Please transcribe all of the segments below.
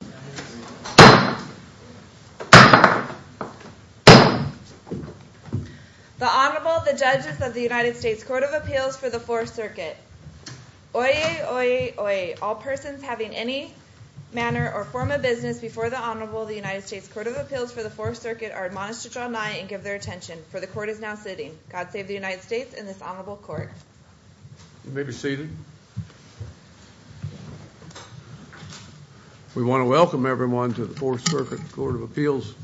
The Honorable, the Judges of the United States Court of Appeals for the Fourth Circuit. Oyez, oyez, oyez. All persons having any manner or form of business before the Honorable of the United States Court of Appeals for the Fourth Circuit are admonished to draw nigh and give their attention, for the Court is now sitting. God save the United States and this Honorable Court. You may be seated. We want to welcome everyone to the Fourth Circuit Court of Appeals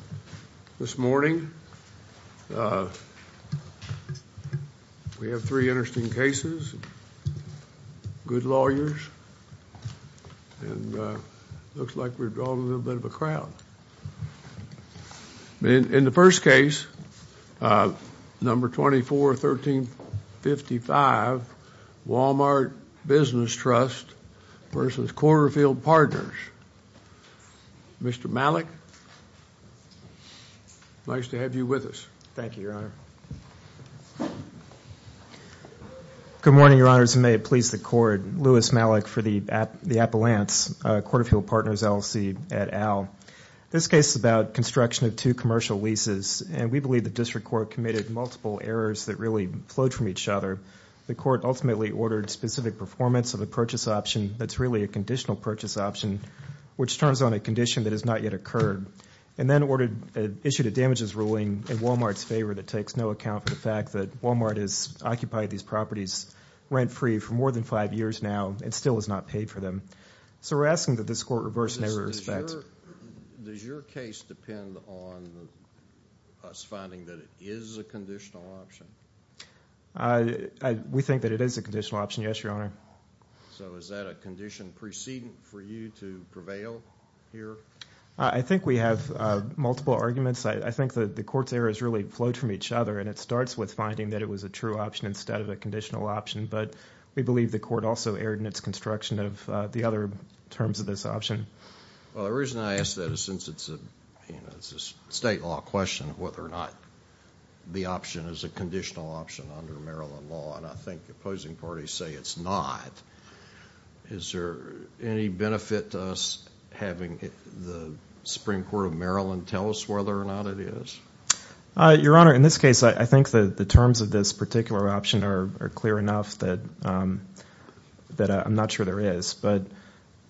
this morning. We have three interesting cases, good lawyers, and looks like we've drawn a little bit of a crowd. In the first case, number 241355, Walmart Business Trust v. Quarterfield Partners. Mr. Malik, nice to have you with us. Thank you, Your Honor. Good morning, Your Honors, and may it please the Court. Louis Malik for the Appellants, Quarterfield Partners LLC at Al. This case is about construction of two commercial leases, and we believe the District Court committed multiple errors that really flowed from each other. The Court ultimately ordered specific performance of a purchase option that's really a conditional purchase option, which turns on a condition that has not yet occurred, and then issued a damages ruling in Walmart's favor that takes no account for the fact that Walmart has occupied these properties rent-free for more than five years now and still has not paid for them. So we're asking that this Court reverse an error of effect. Does your case depend on us finding that it is a conditional option? We think that it is a conditional option, yes, Your Honor. So is that a condition preceding for you to prevail here? I think we have multiple arguments. I think the Court's errors really flowed from each other, and it starts with finding that it was a true option instead of a conditional option, but we believe the Court also erred in its construction of the other terms of this option. Well, the reason I ask that is since it's a state law question whether or not the option is a conditional option under Maryland law, and I think opposing parties say it's not, is there any benefit to us having the Supreme Court of Maryland tell us whether or not it is? Your Honor, in this case, I think the terms of this particular option are clear enough that I'm not sure there is, but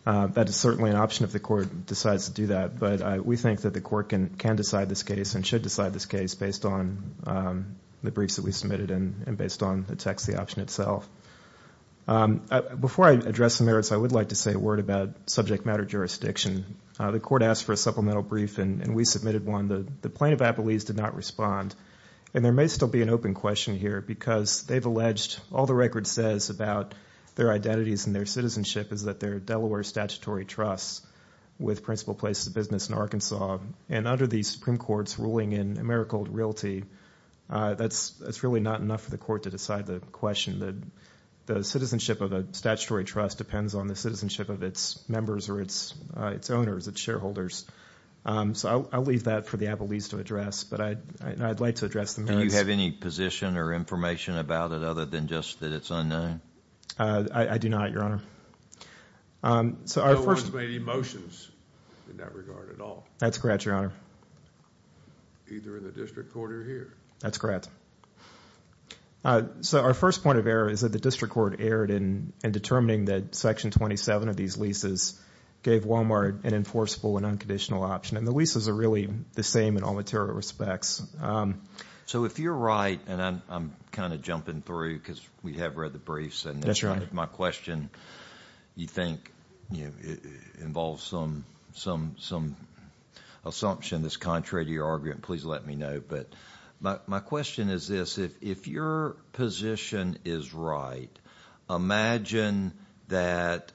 that is certainly an option if the Court decides to do that, but we think that the Court can decide this case and should decide this case based on the briefs that we submitted and based on the text of the option itself. Before I address the merits, I would like to say a word about subject matter jurisdiction. The Court asked for a supplemental brief, and we submitted one. The plaintiff at Belize did not respond, and there may still be an open question here because they've alleged all the record says about their identities and their citizenship is that they're a Delaware statutory trust with Principal Places of Business in Arkansas, and under the Supreme Court's ruling in Americold Realty, that's really not enough for the Court to decide the question. The citizenship of a statutory trust depends on the citizenship of its members or its owners, its shareholders. So I'll leave that for the Abilese to address, but I'd like to address the merits. Do you have any position or information about it other than just that it's unknown? I do not, Your Honor. No one's made any motions in that regard at all. That's correct, Your Honor. Either in the district court or here. That's correct. So our first point of error is that the district court erred in determining that Section 27 of these leases gave Walmart an enforceable and unconditional option, and the leases are really the same in all material respects. So if you're right, and I'm kind of jumping through because we have read the briefs. That's right. And if my question you think involves some assumption that's contrary to your argument, please let me know. But my question is this. If your position is right, imagine that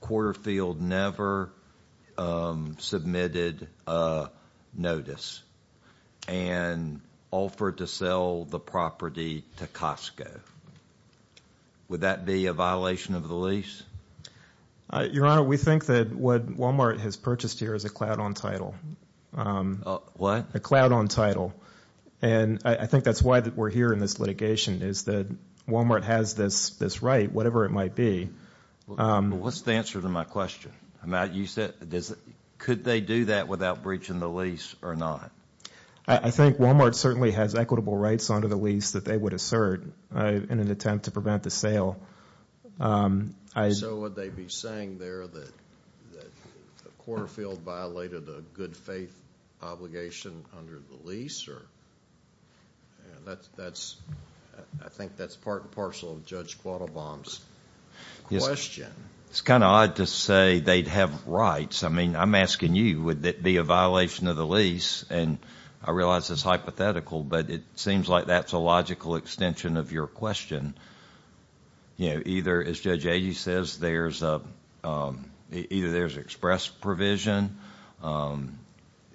Quarterfield never submitted a notice and offered to sell the property to Costco. Would that be a violation of the lease? Your Honor, we think that what Walmart has purchased here is a cloud on title. What? A cloud on title. And I think that's why we're here in this litigation is that Walmart has this right, whatever it might be. What's the answer to my question? Could they do that without breaching the lease or not? I think Walmart certainly has equitable rights under the lease that they would assert in an attempt to prevent the sale. So would they be saying there that Quarterfield violated a good faith obligation under the lease? I think that's part and parcel of Judge Quattlebaum's question. It's kind of odd to say they'd have rights. I mean, I'm asking you, would it be a violation of the lease? I realize it's hypothetical, but it seems like that's a logical extension of your question. Either, as Judge Agee says, there's express provision,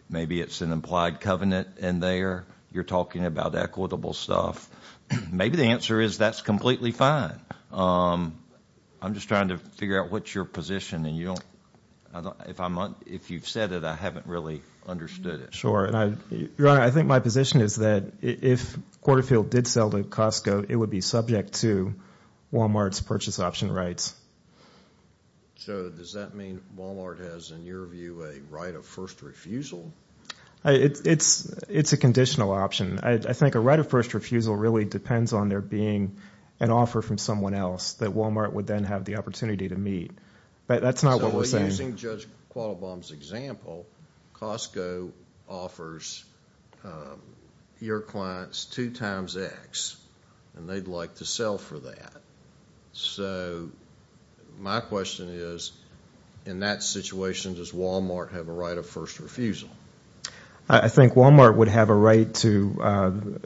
maybe it's an implied covenant in there. You're talking about equitable stuff. Maybe the answer is that's completely fine. I'm just trying to figure out what's your position. If you've said it, I haven't really understood it. Your Honor, I think my position is that if Quarterfield did sell to Costco, it would be subject to Walmart's purchase option rights. So does that mean Walmart has, in your view, a right of first refusal? It's a conditional option. I think a right of first refusal really depends on there being an offer from someone else that Walmart would then have the opportunity to meet. But that's not what we're saying. So using Judge Quattlebaum's example, Costco offers your clients two times X, and they'd like to sell for that. So my question is, in that situation, does Walmart have a right of first refusal? I think Walmart would have a right to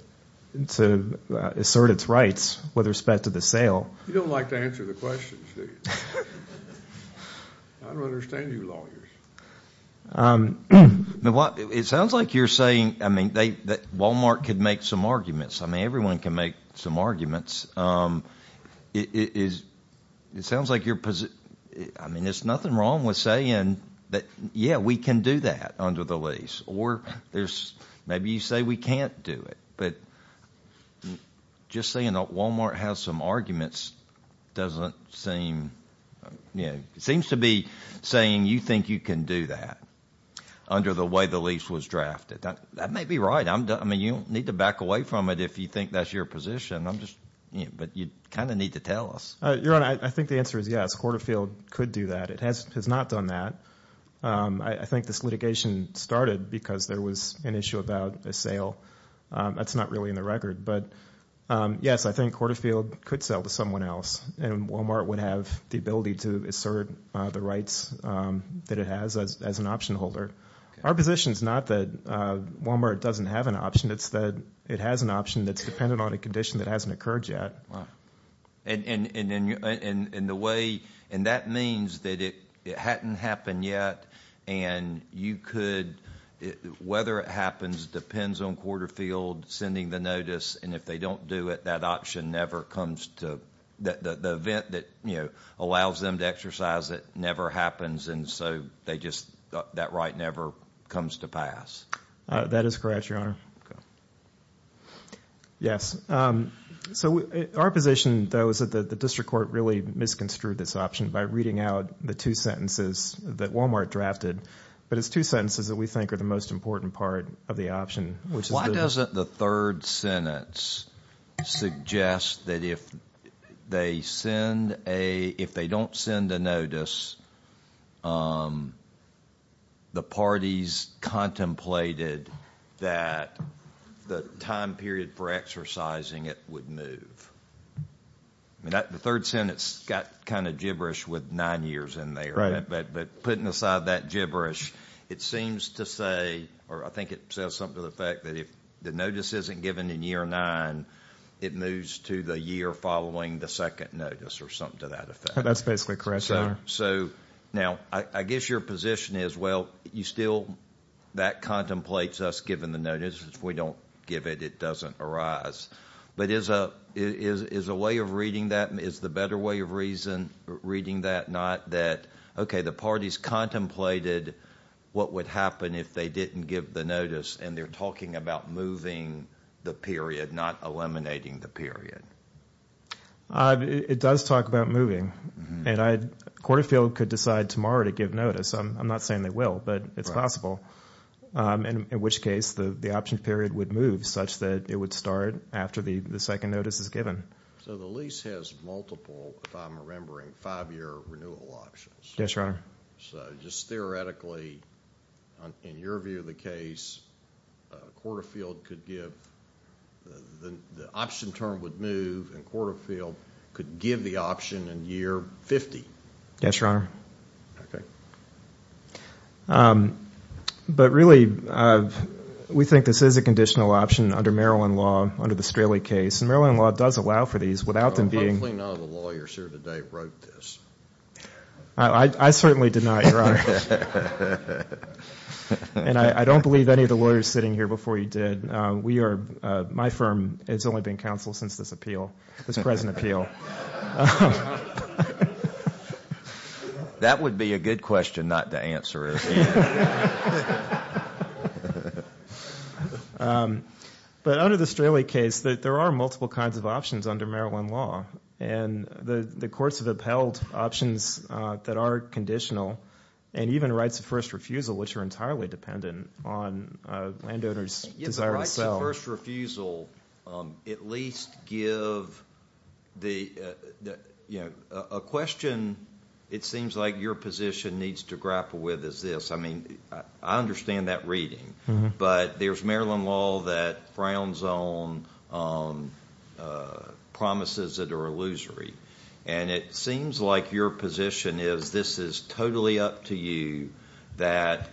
assert its rights with respect to the sale. You don't like to answer the questions, do you? I don't understand you lawyers. It sounds like you're saying that Walmart could make some arguments. I mean, everyone can make some arguments. It sounds like you're – I mean, there's nothing wrong with saying that, yeah, we can do that under the lease. Or maybe you say we can't do it. But just saying that Walmart has some arguments doesn't seem – seems to be saying you think you can do that under the way the lease was drafted. That may be right. I mean, you don't need to back away from it if you think that's your position. I'm just – but you kind of need to tell us. Your Honor, I think the answer is yes. Hortofield could do that. It has not done that. I think this litigation started because there was an issue about a sale. That's not really in the record. But yes, I think Hortofield could sell to someone else, and Walmart would have the ability to assert the rights that it has as an option holder. Our position is not that Walmart doesn't have an option. It's that it has an option that's dependent on a condition that hasn't occurred yet. And the way – and that means that it hadn't happened yet, and you could – whether it happens depends on Hortofield sending the notice. And if they don't do it, that option never comes to – the event that allows them to exercise it never happens. And so they just – that right never comes to pass. That is correct, Your Honor. Yes. So our position, though, is that the district court really misconstrued this option by reading out the two sentences that Walmart drafted. But it's two sentences that we think are the most important part of the option, which is the – If they don't send a notice, the parties contemplated that the time period for exercising it would move. The third sentence got kind of gibberish with nine years in there. But putting aside that gibberish, it seems to say – or I think it says something to the effect that if the notice isn't given in year nine, it moves to the year following the second notice or something to that effect. That's basically correct, Your Honor. So now I guess your position is, well, you still – that contemplates us giving the notice. If we don't give it, it doesn't arise. But is a way of reading that – is the better way of reading that not that, okay, the parties contemplated what would happen if they didn't give the notice, and they're talking about moving the period, not eliminating the period? It does talk about moving. And I – Corderfield could decide tomorrow to give notice. I'm not saying they will, but it's possible. In which case, the option period would move such that it would start after the second notice is given. So the lease has multiple, if I'm remembering, five-year renewal options. Yes, Your Honor. So just theoretically, in your view of the case, Corderfield could give – the option term would move, and Corderfield could give the option in year 50. Yes, Your Honor. Okay. But really, we think this is a conditional option under Maryland law, under the Straley case. And Maryland law does allow for these without them being – Hopefully none of the lawyers here today wrote this. I certainly did not, Your Honor. And I don't believe any of the lawyers sitting here before you did. We are – my firm has only been counsel since this appeal, this present appeal. That would be a good question not to answer. But under the Straley case, there are multiple kinds of options under Maryland law. And the courts have upheld options that are conditional, and even rights of first refusal, which are entirely dependent on landowners' desire to sell. Yes, the rights of first refusal at least give the – a question it seems like your position needs to grapple with is this. I mean, I understand that reading. But there's Maryland law that frowns on promises that are illusory. And it seems like your position is this is totally up to you that,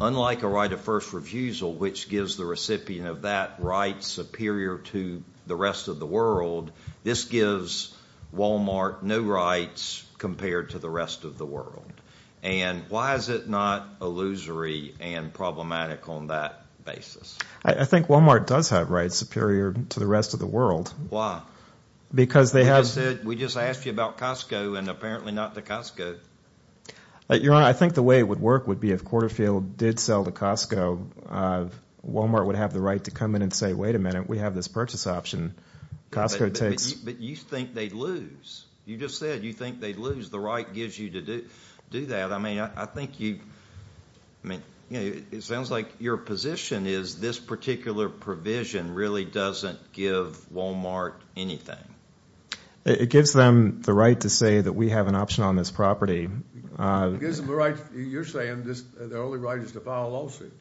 unlike a right of first refusal, which gives the recipient of that right superior to the rest of the world, this gives Walmart no rights compared to the rest of the world. And why is it not illusory and problematic on that basis? I think Walmart does have rights superior to the rest of the world. Because they have – We just asked you about Costco and apparently not the Costco. Your Honor, I think the way it would work would be if Quarterfield did sell to Costco, Walmart would have the right to come in and say, wait a minute, we have this purchase option. Costco takes – But you think they'd lose. You just said you think they'd lose. The right gives you to do that. I mean, I think you – I mean, it sounds like your position is this particular provision really doesn't give Walmart anything. It gives them the right to say that we have an option on this property. It gives them the right – you're saying their only right is to file a lawsuit.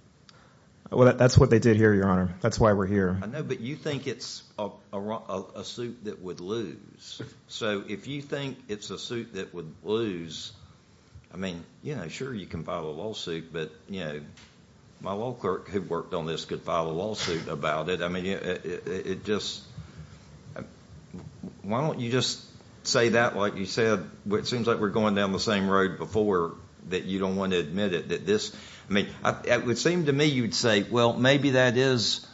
Well, that's what they did here, Your Honor. That's why we're here. I know, but you think it's a suit that would lose. So if you think it's a suit that would lose, I mean, yeah, sure, you can file a lawsuit. But, you know, my law clerk who worked on this could file a lawsuit about it. I mean, it just – why don't you just say that like you said? It seems like we're going down the same road before that you don't want to admit it, that this – I mean, it would seem to me you would say, well, maybe that is,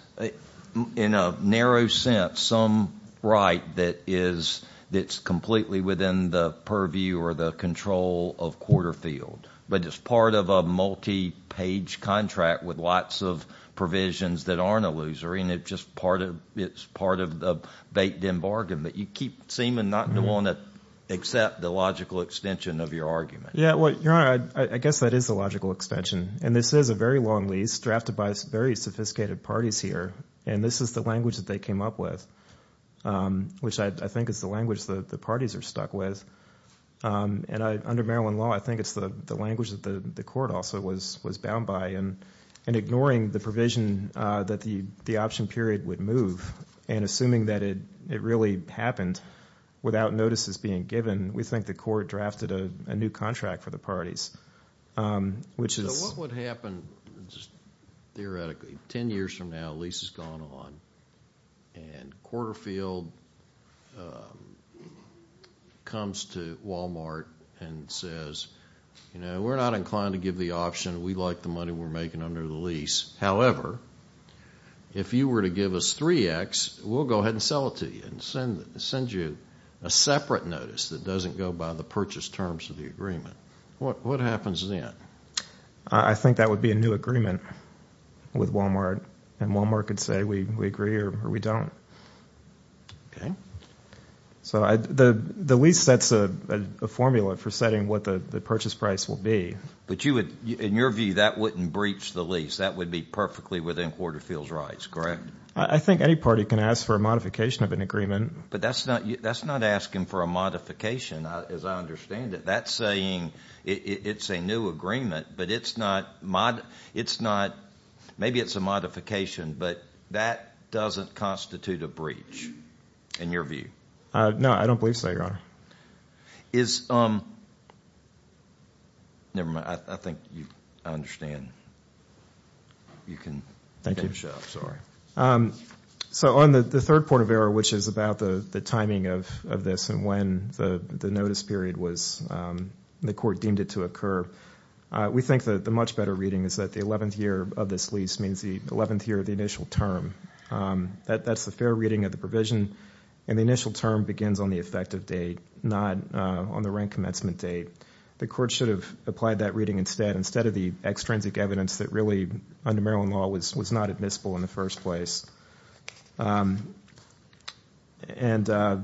in a narrow sense, some right that is – that's completely within the purview or the control of Quarterfield. But it's part of a multi-page contract with lots of provisions that aren't a loser, and it's just part of – it's part of the bait and bargain. But you keep seeming not to want to accept the logical extension of your argument. Yeah, well, Your Honor, I guess that is a logical extension, and this is a very long lease drafted by very sophisticated parties here. And this is the language that they came up with, which I think is the language that the parties are stuck with. And under Maryland law, I think it's the language that the court also was bound by. And ignoring the provision that the option period would move and assuming that it really happened without notices being given, we think the court drafted a new contract for the parties, which is – So what would happen, just theoretically, ten years from now, the lease has gone on, and Quarterfield comes to Walmart and says, you know, we're not inclined to give the option. We like the money we're making under the lease. However, if you were to give us 3X, we'll go ahead and sell it to you and send you a separate notice that doesn't go by the purchase terms of the agreement. What happens then? I think that would be a new agreement with Walmart, and Walmart could say we agree or we don't. Okay. So the lease sets a formula for setting what the purchase price will be. But you would – in your view, that wouldn't breach the lease. That would be perfectly within Quarterfield's rights, correct? I think any party can ask for a modification of an agreement. But that's not asking for a modification, as I understand it. That's saying it's a new agreement, but it's not – maybe it's a modification, but that doesn't constitute a breach in your view. No, I don't believe so, Your Honor. Is – never mind. I think I understand. You can finish up. So on the third point of error, which is about the timing of this and when the notice period was – the court deemed it to occur, we think that the much better reading is that the 11th year of this lease means the 11th year of the initial term. That's the fair reading of the provision. And the initial term begins on the effective date, not on the rank commencement date. The court should have applied that reading instead, instead of the extrinsic evidence that really, under Maryland law, was not admissible in the first place. And I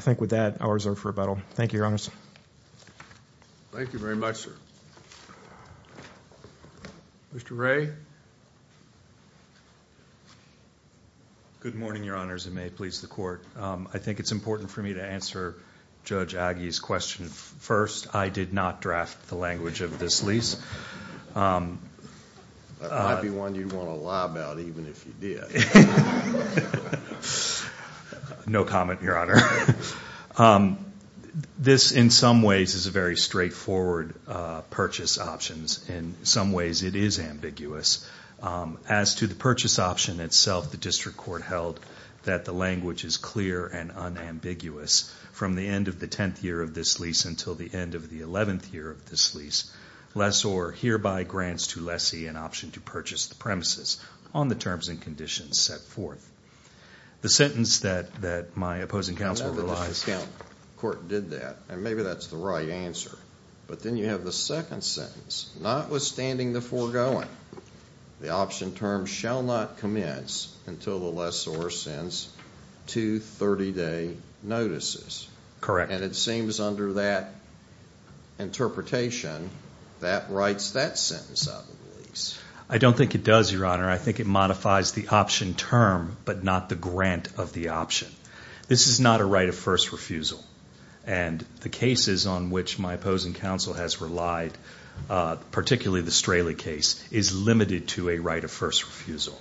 think with that, I'll reserve for rebuttal. Thank you, Your Honor. Thank you very much, sir. Mr. Ray? Good morning, Your Honors, and may it please the court. I think it's important for me to answer Judge Agee's question first. I did not draft the language of this lease. That might be one you'd want to lie about even if you did. No comment, Your Honor. This, in some ways, is a very straightforward purchase option. In some ways, it is ambiguous. As to the purchase option itself, the district court held that the language is clear and unambiguous. From the end of the 10th year of this lease until the end of the 11th year of this lease, lessor hereby grants to lessee an option to purchase the premises on the terms and conditions set forth. The sentence that my opposing counsel relies... I know the district court did that, and maybe that's the right answer. But then you have the second sentence. Notwithstanding the foregoing, the option term shall not commence until the lessor sends two 30-day notices. Correct. And it seems under that interpretation, that writes that sentence out of the lease. I don't think it does, Your Honor. I think it modifies the option term, but not the grant of the option. This is not a right of first refusal. And the cases on which my opposing counsel has relied, particularly the Straley case, is limited to a right of first refusal.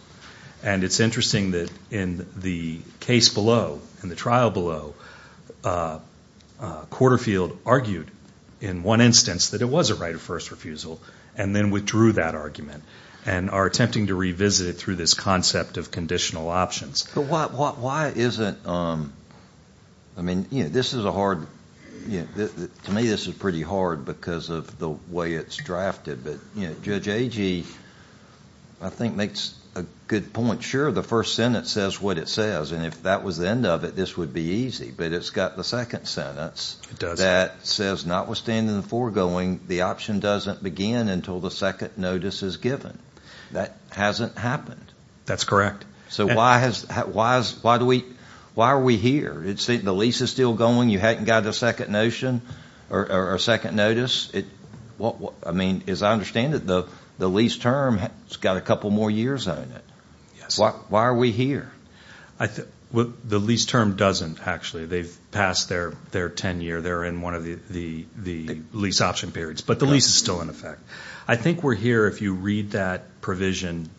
And it's interesting that in the case below, in the trial below, Quarterfield argued in one instance that it was a right of first refusal and then withdrew that argument and are attempting to revisit it through this concept of conditional options. But why isn't... I mean, this is a hard... To me, this is pretty hard because of the way it's drafted. But Judge Agee, I think, makes a good point. Sure, the first sentence says what it says. And if that was the end of it, this would be easy. But it's got the second sentence that says, notwithstanding the foregoing, the option doesn't begin until the second notice is given. That hasn't happened. That's correct. So why are we here? The lease is still going. You haven't got a second notion or a second notice. I mean, as I understand it, the lease term has got a couple more years on it. Yes. Why are we here? The lease term doesn't, actually. They've passed their 10-year. They're in one of the lease option periods. But the lease is still in effect. I think we're here if you read that provision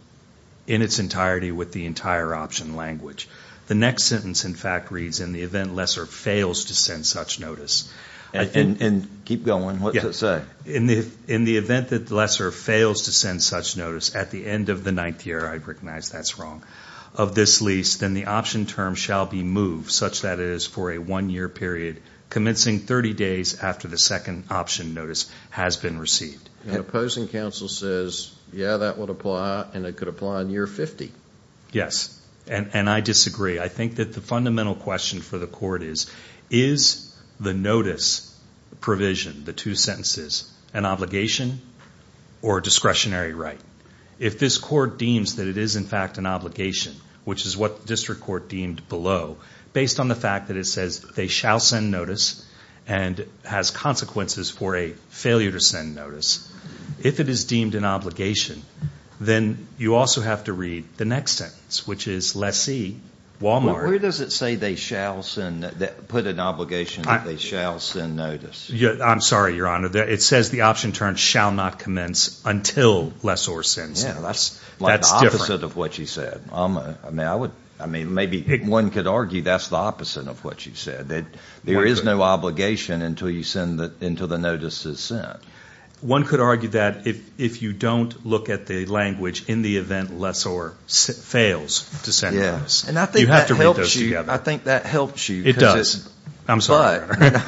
in its entirety with the entire option language. The next sentence, in fact, reads, in the event Lesser fails to send such notice... And keep going. What's it say? In the event that Lesser fails to send such notice at the end of the ninth year, I recognize that's wrong, of this lease, then the option term shall be moved, such that it is for a one-year period, commencing 30 days after the second option notice has been received. And opposing counsel says, yeah, that would apply, and it could apply in year 50. Yes. And I disagree. I think that the fundamental question for the court is, is the notice provision, the two sentences, an obligation or a discretionary right? If this court deems that it is, in fact, an obligation, which is what the district court deemed below, based on the fact that it says they shall send notice and has consequences for a failure to send notice, if it is deemed an obligation, then you also have to read the next sentence, which is Lessee, Walmart... Where does it say they shall put an obligation that they shall send notice? I'm sorry, Your Honor. It says the option term shall not commence until Lessor sends notice. That's different. Like the opposite of what you said. I mean, maybe one could argue that's the opposite of what you said, that there is no obligation until the notice is sent. One could argue that if you don't look at the language in the event Lessor fails to send notice. Yes. And I think that helps you. You have to put those together. I think that helps you. It does. I'm sorry, Your Honor.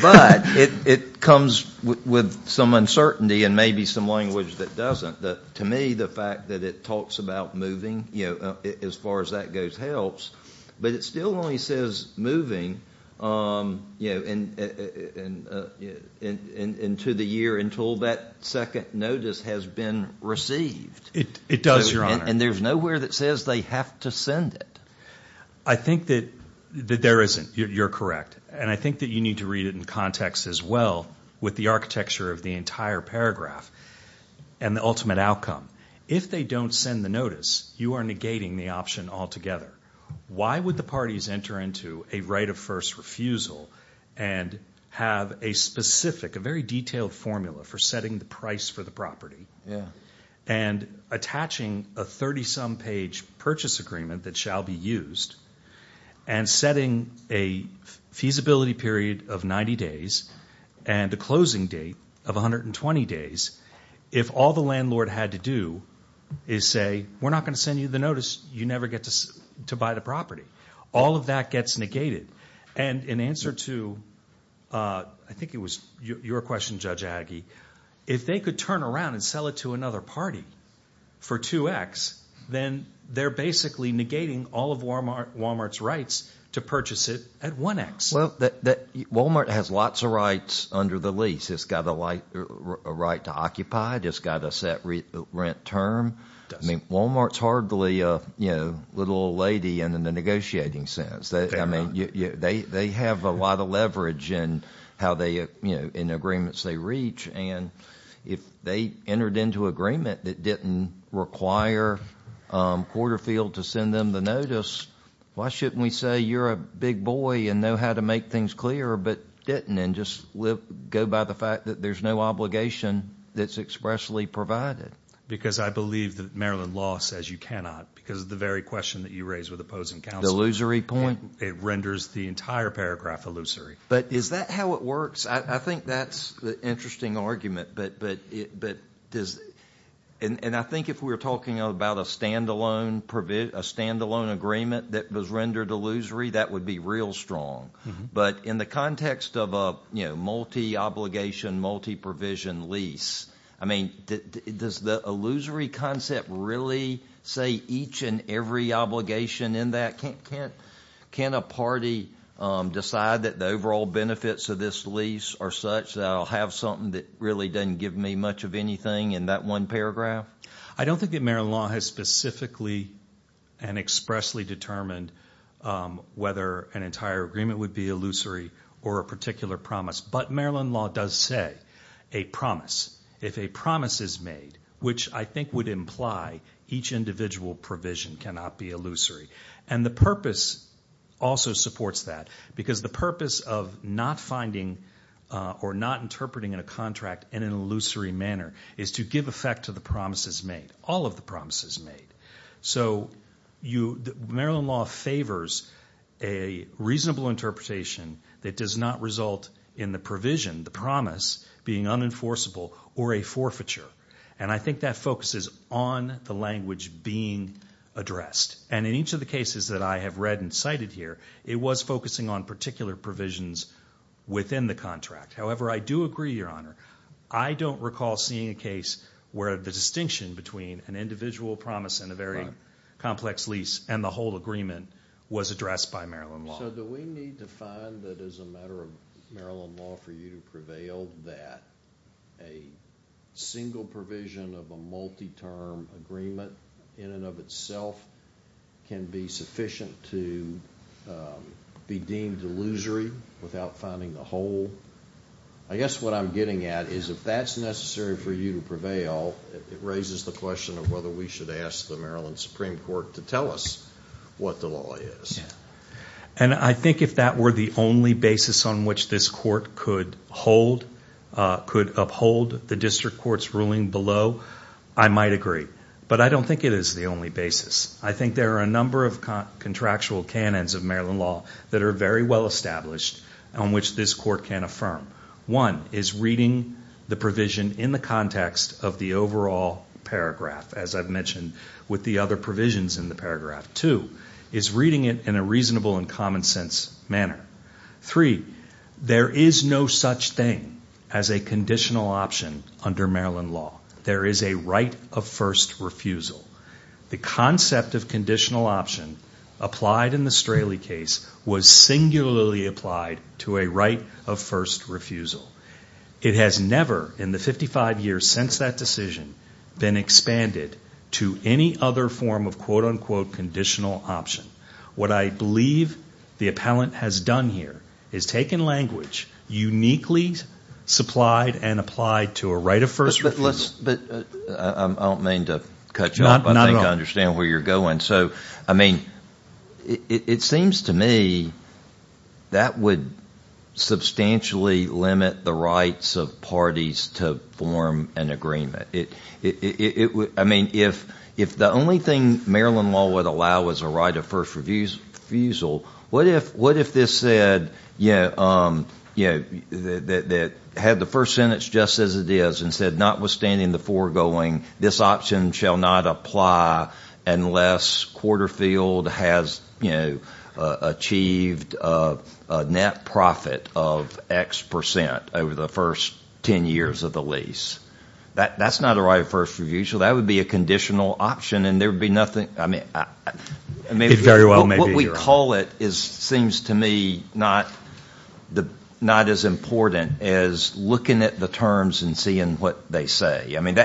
But it comes with some uncertainty and maybe some language that doesn't. To me, the fact that it talks about moving, as far as that goes, helps. But it still only says moving into the year until that second notice has been received. It does, Your Honor. And there's nowhere that says they have to send it. I think that there isn't. You're correct. And I think that you need to read it in context as well with the architecture of the entire paragraph and the ultimate outcome. If they don't send the notice, you are negating the option altogether. Why would the parties enter into a right of first refusal and have a specific, a very detailed formula for setting the price for the property? Yeah. And attaching a 30-some page purchase agreement that shall be used and setting a feasibility period of 90 days and a closing date of 120 days, if all the landlord had to do is say, we're not going to send you the notice, you never get to buy the property. All of that gets negated. And in answer to, I think it was your question, Judge Agee, if they could turn around and sell it to another party for 2X, then they're basically negating all of Walmart's rights to purchase it at 1X. Well, Walmart has lots of rights under the lease. It's got a right to occupy. It's got a set rent term. I mean, Walmart's hardly a little old lady in the negotiating sense. I mean, they have a lot of leverage in how they, you know, in agreements they reach. And if they entered into agreement that didn't require Porterfield to send them the notice, why shouldn't we say you're a big boy and know how to make things clearer but didn't and just go by the fact that there's no obligation that's expressly provided? Because I believe that Maryland law says you cannot because of the very question that you raised with opposing counsel. The illusory point? It renders the entire paragraph illusory. But is that how it works? I think that's an interesting argument. And I think if we were talking about a stand-alone agreement that was rendered illusory, that would be real strong. But in the context of a multi-obligation, multi-provision lease, I mean, does the illusory concept really say each and every obligation in that? Can't a party decide that the overall benefits of this lease are such that I'll have something that really doesn't give me much of anything in that one paragraph? I don't think that Maryland law has specifically and expressly determined whether an entire agreement would be illusory or a particular promise. But Maryland law does say a promise. If a promise is made, which I think would imply each individual provision cannot be illusory, and the purpose also supports that because the purpose of not finding or not interpreting a contract in an illusory manner is to give effect to the promises made, all of the promises made. So Maryland law favors a reasonable interpretation that does not result in the provision, the promise, being unenforceable or a forfeiture. And I think that focuses on the language being addressed. And in each of the cases that I have read and cited here, it was focusing on particular provisions within the contract. However, I do agree, Your Honor. I don't recall seeing a case where the distinction between an individual promise and a very complex lease and the whole agreement was addressed by Maryland law. So do we need to find that as a matter of Maryland law for you to prevail that a single provision of a multi-term agreement in and of itself can be sufficient to be deemed illusory without finding the whole? I guess what I'm getting at is if that's necessary for you to prevail, it raises the question of whether we should ask the Maryland Supreme Court to tell us what the law is. And I think if that were the only basis on which this court could uphold the district court's ruling below, I might agree. But I don't think it is the only basis. I think there are a number of contractual canons of Maryland law that are very well established on which this court can affirm. One is reading the provision in the context of the overall paragraph, as I've mentioned, with the other provisions in the paragraph. Two is reading it in a reasonable and common sense manner. Three, there is no such thing as a conditional option under Maryland law. There is a right of first refusal. The concept of conditional option applied in the Straley case was singularly applied to a right of first refusal. It has never in the 55 years since that decision been expanded to any other form of quote-unquote conditional option. What I believe the appellant has done here is taken language uniquely supplied and applied to a right of first refusal. But I don't mean to cut you off. Not at all. I think I understand where you're going. I mean, it seems to me that would substantially limit the rights of parties to form an agreement. I mean, if the only thing Maryland law would allow is a right of first refusal, what if this said that had the first sentence just as it is and said notwithstanding the foregoing, this option shall not apply unless Quarterfield has achieved a net profit of X percent over the first 10 years of the lease. That's not a right of first refusal. That would be a conditional option, and there would be nothing. I mean, what we call it seems to me not as important as looking at the terms and seeing what they say. I mean,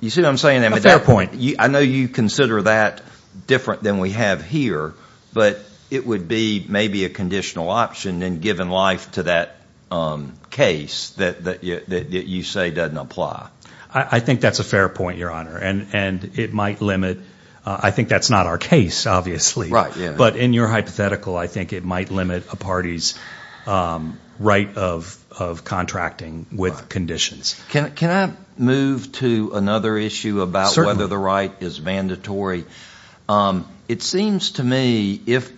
you see what I'm saying? A fair point. I know you consider that different than we have here, but it would be maybe a conditional option in giving life to that case that you say doesn't apply. I think that's a fair point, Your Honor, and it might limit. I think that's not our case, obviously. But in your hypothetical, I think it might limit a party's right of contracting with conditions. Can I move to another issue about whether the right is mandatory? It seems to me if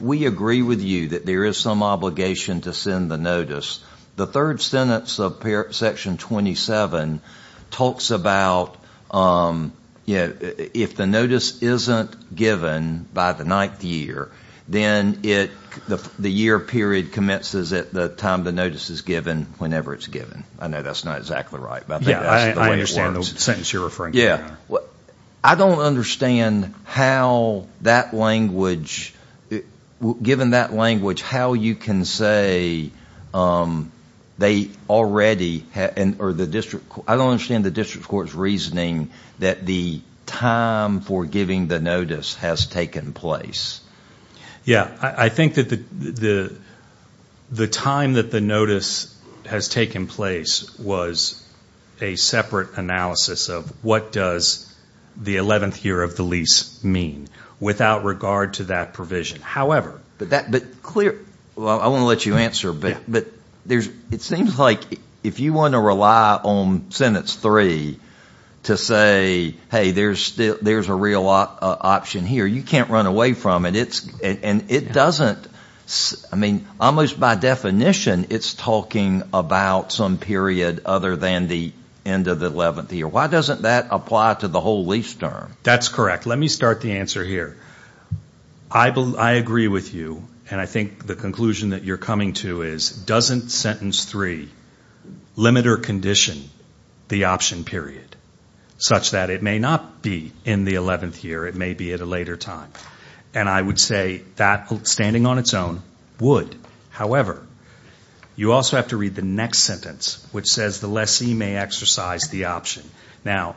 we agree with you that there is some obligation to send the notice, the third sentence of Section 27 talks about if the notice isn't given by the ninth year, then the year period commences at the time the notice is given whenever it's given. I know that's not exactly right, but I think that's the way it works. I understand the sentence you're referring to, Your Honor. I don't understand how that language, given that language, how you can say they already, or I don't understand the district court's reasoning that the time for giving the notice has taken place. Yeah, I think that the time that the notice has taken place was a separate analysis of what does the 11th year of the lease mean without regard to that provision. However— I want to let you answer, but it seems like if you want to rely on sentence three to say, hey, there's a real option here, you can't run away from it. And it doesn't—I mean, almost by definition, it's talking about some period other than the end of the 11th year. Why doesn't that apply to the whole lease term? That's correct. Let me start the answer here. I agree with you, and I think the conclusion that you're coming to is, doesn't sentence three limit or condition the option period, such that it may not be in the 11th year. It may be at a later time. And I would say that, standing on its own, would. However, you also have to read the next sentence, which says the lessee may exercise the option. Now,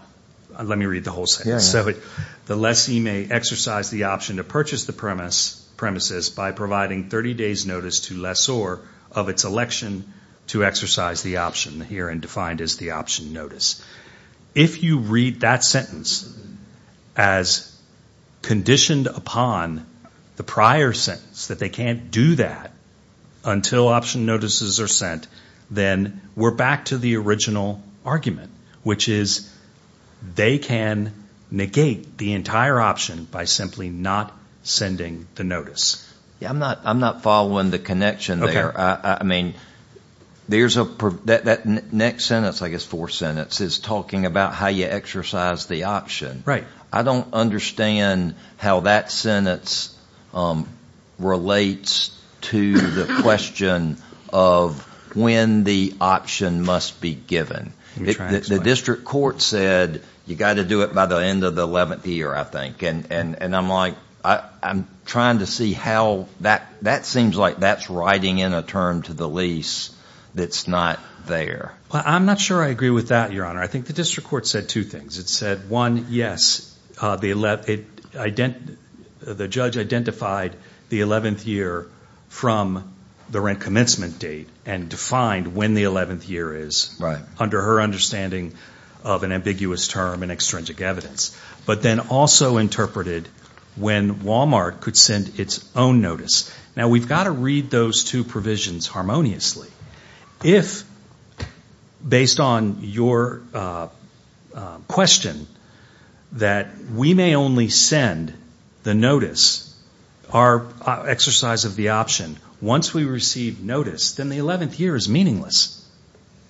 let me read the whole sentence. The lessee may exercise the option to purchase the premises by providing 30 days' notice to lessor of its election to exercise the option, herein defined as the option notice. If you read that sentence as conditioned upon the prior sentence, that they can't do that until option notices are sent, then we're back to the original argument, which is they can negate the entire option by simply not sending the notice. I'm not following the connection there. I mean, there's a—that next sentence, I guess four sentences, is talking about how you exercise the option. Right. I don't understand how that sentence relates to the question of when the option must be given. The district court said you've got to do it by the end of the 11th year, I think. And I'm like, I'm trying to see how that—that seems like that's writing in a term to the lease that's not there. I'm not sure I agree with that, Your Honor. I think the district court said two things. It said, one, yes, the judge identified the 11th year from the rent commencement date and defined when the 11th year is under her understanding of an ambiguous term and extrinsic evidence, but then also interpreted when Walmart could send its own notice. Now, we've got to read those two provisions harmoniously. If, based on your question, that we may only send the notice, our exercise of the option, once we receive notice, then the 11th year is meaningless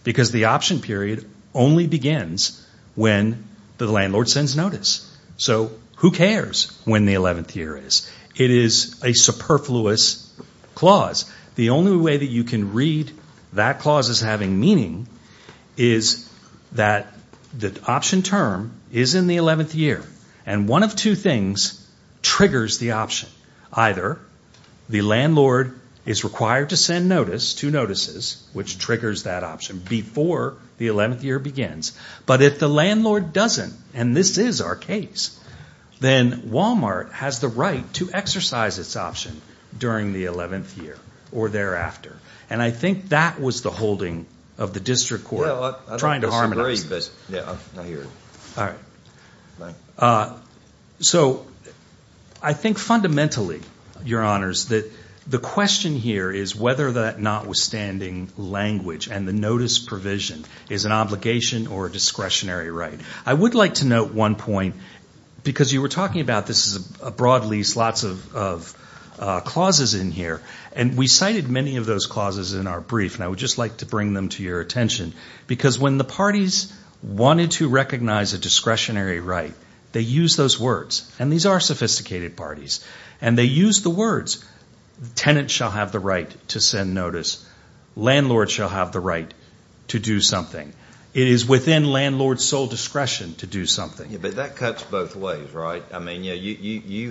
because the option period only begins when the landlord sends notice. So who cares when the 11th year is? It is a superfluous clause. The only way that you can read that clause as having meaning is that the option term is in the 11th year. And one of two things triggers the option. Either the landlord is required to send notice, two notices, which triggers that option before the 11th year begins. But if the landlord doesn't, and this is our case, then Walmart has the right to exercise its option during the 11th year or thereafter. And I think that was the holding of the district court trying to harmonize. All right. So I think fundamentally, Your Honors, that the question here is whether that notwithstanding language and the notice provision is an obligation or a discretionary right. I would like to note one point because you were talking about this is a broad lease, lots of clauses in here. And we cited many of those clauses in our brief, and I would just like to bring them to your attention. Because when the parties wanted to recognize a discretionary right, they used those words. And these are sophisticated parties. And they used the words, tenants shall have the right to send notice. Landlords shall have the right to do something. It is within landlord's sole discretion to do something. But that cuts both ways, right? It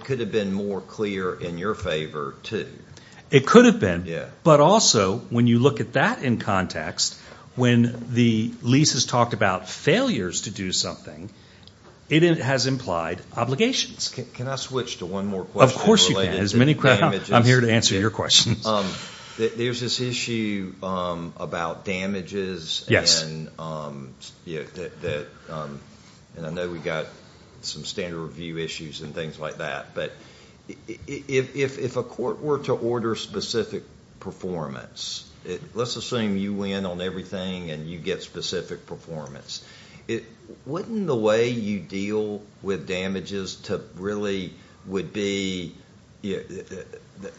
could have been more clear in your favor, too. It could have been. But also, when you look at that in context, when the lease has talked about failures to do something, it has implied obligations. Can I switch to one more question related to damages? Of course you can. I'm here to answer your questions. There's this issue about damages. And I know we've got some standard review issues and things like that. But if a court were to order specific performance, let's assume you win on everything and you get specific performance, wouldn't the way you deal with damages really would be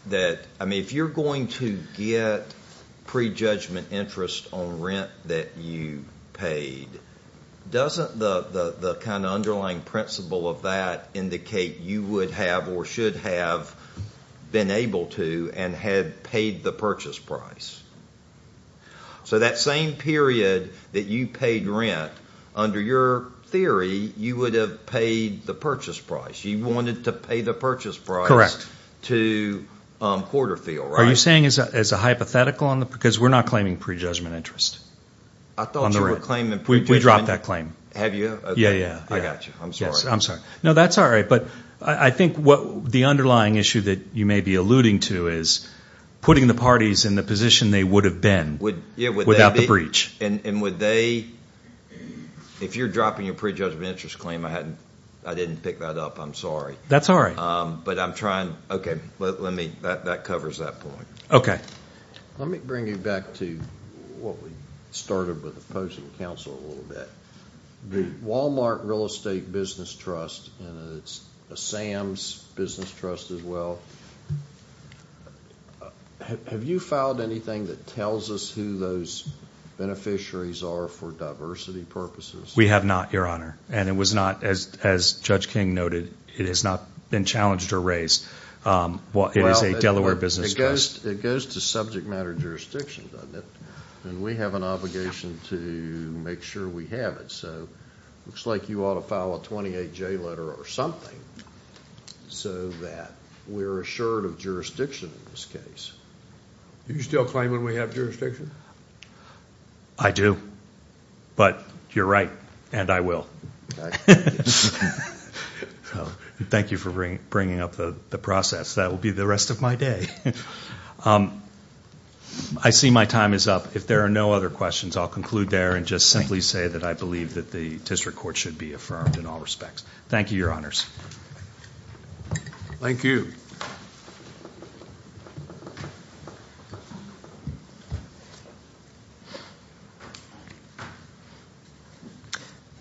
that if you're going to get prejudgment interest on rent that you paid, doesn't the kind of underlying principle of that indicate you would have or should have been able to and had paid the purchase price? So that same period that you paid rent, under your theory, you would have paid the purchase price. You wanted to pay the purchase price to Porterfield, right? Are you saying as a hypothetical? Because we're not claiming prejudgment interest on the rent. I thought you were claiming prejudgment. We dropped that claim. Have you? Yeah, yeah. I got you. I'm sorry. No, that's all right. But I think the underlying issue that you may be alluding to is putting the parties in the position they would have been without the breach. And would they, if you're dropping your prejudgment interest claim, I didn't pick that up. I'm sorry. That's all right. But I'm trying. Okay. That covers that point. Okay. Let me bring you back to what we started with opposing counsel a little bit. The Walmart Real Estate Business Trust, and it's a SAMS business trust as well, have you filed anything that tells us who those beneficiaries are for diversity purposes? We have not, Your Honor. And it was not, as Judge King noted, it has not been challenged or raised. It is a Delaware business trust. It goes to subject matter jurisdiction, doesn't it? And we have an obligation to make sure we have it. So it looks like you ought to file a 28-J letter or something so that we're assured of jurisdiction in this case. Do you still claim that we have jurisdiction? I do. But you're right, and I will. Thank you for bringing up the process. That will be the rest of my day. I see my time is up. If there are no other questions, I'll conclude there and just simply say that I believe that the district court should be affirmed in all respects. Thank you, Your Honors. Thank you.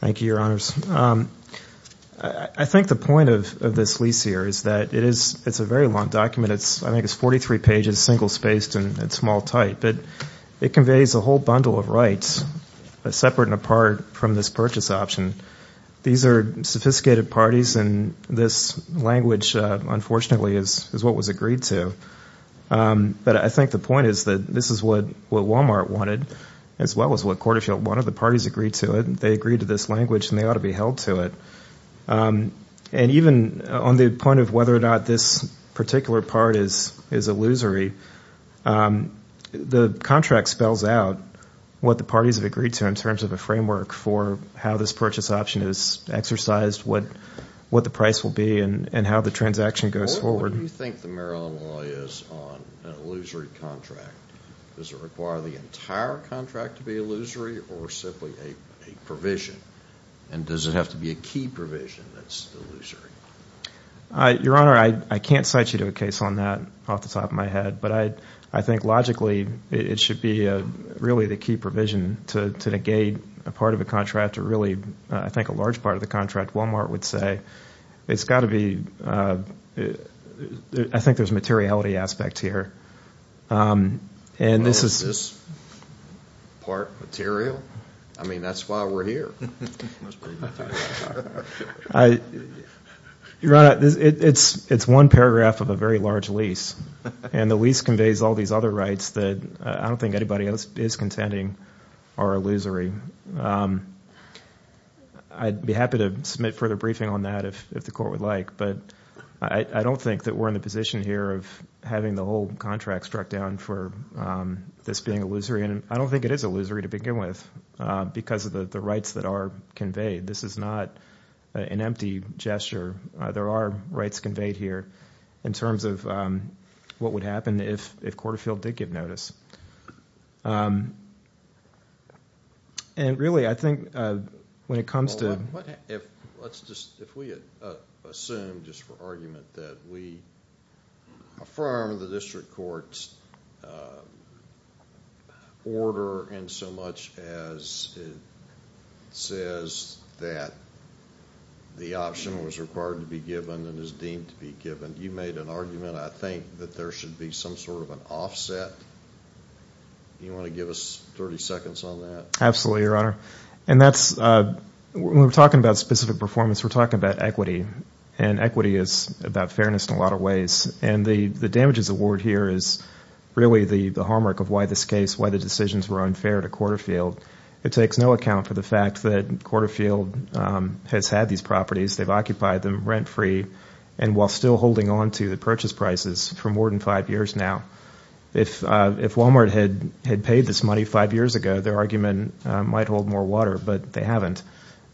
Thank you, Your Honors. I think the point of this lease here is that it is a very long document. I think it's 43 pages, single-spaced and small type. It conveys a whole bundle of rights separate and apart from this purchase option. These are sophisticated parties, and this language, unfortunately, is what was agreed to. But I think the point is that this is what Walmart wanted as well as what Corderfield wanted. The parties agreed to it. They agreed to this language, and they ought to be held to it. Even on the point of whether or not this particular part is illusory, the contract spells out what the parties have agreed to in terms of a framework for how this purchase option is exercised, what the price will be, and how the transaction goes forward. What do you think the Maryland law is on an illusory contract? Does it require the entire contract to be illusory or simply a provision? And does it have to be a key provision that's illusory? Your Honor, I can't cite you to a case on that off the top of my head, but I think logically it should be really the key provision to negate a part of the contract or really, I think, a large part of the contract. Walmart would say it's got to be, I think there's a materiality aspect here. This part material? I mean, that's why we're here. Your Honor, it's one paragraph of a very large lease, and the lease conveys all these other rights that I don't think anybody else is contending are illusory. I'd be happy to submit further briefing on that if the court would like, but I don't think that we're in the position here of having the whole contract struck down for this being illusory, and I don't think it is illusory to begin with because of the rights that are conveyed. This is not an empty gesture. There are rights conveyed here in terms of what would happen if Corderfield did give notice. Really, I think when it comes to— Let's just, if we assume just for argument that we affirm the district court's order in so much as it says that the option was required to be given and is deemed to be given, you made an argument, I think, that there should be some sort of an offset. Do you want to give us 30 seconds on that? Absolutely, Your Honor. When we're talking about specific performance, we're talking about equity, and equity is about fairness in a lot of ways. The damages award here is really the harm work of why this case, why the decisions were unfair to Corderfield. It takes no account for the fact that Corderfield has had these properties. They've occupied them rent-free and while still holding on to the purchase prices for more than five years now. If Walmart had paid this money five years ago, their argument might hold more water, but they haven't.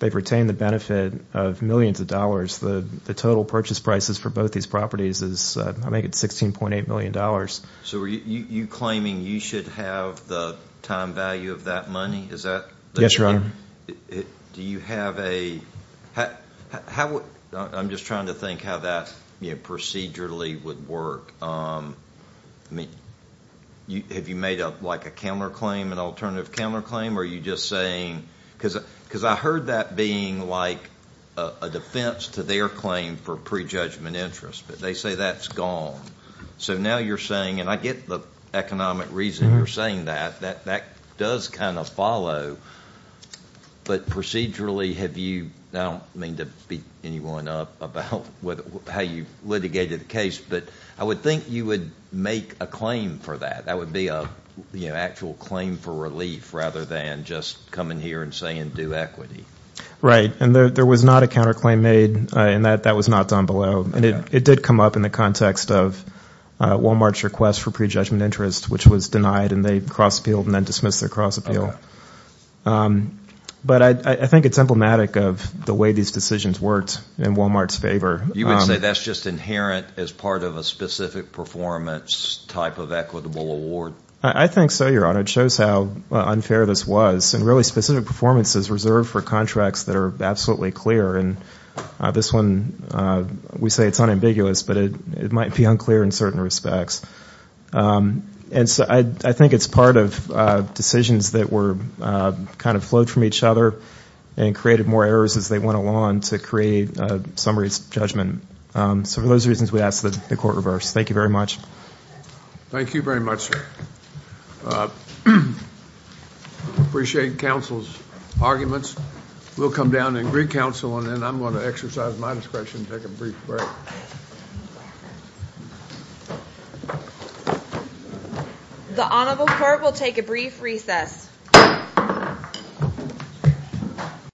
They've retained the benefit of millions of dollars. The total purchase prices for both these properties is, I think, $16.8 million. So are you claiming you should have the time value of that money? Yes, Your Honor. Do you have a – I'm just trying to think how that procedurally would work. I mean, have you made up like a counterclaim, an alternative counterclaim, or are you just saying – because I heard that being like a defense to their claim for prejudgment interest, but they say that's gone. So now you're saying – and I get the economic reason you're saying that. That does kind of follow, but procedurally have you – I don't mean to beat anyone up about how you litigated the case, but I would think you would make a claim for that. That would be an actual claim for relief rather than just coming here and saying do equity. Right, and there was not a counterclaim made, and that was not done below. And it did come up in the context of Walmart's request for prejudgment interest, which was denied, and they cross appealed and then dismissed their cross appeal. But I think it's emblematic of the way these decisions worked in Walmart's favor. You would say that's just inherent as part of a specific performance type of equitable award? I think so, Your Honor. It shows how unfair this was, and really specific performance is reserved for contracts that are absolutely clear. And this one, we say it's unambiguous, but it might be unclear in certain respects. And so I think it's part of decisions that were kind of flowed from each other and created more errors as they went along to create summary judgment. So for those reasons, we ask that the court reverse. Thank you very much. Thank you very much, sir. Appreciate counsel's arguments. We'll come down and recounsel, and then I'm going to exercise my discretion to take a brief break. The honorable court will take a brief recess.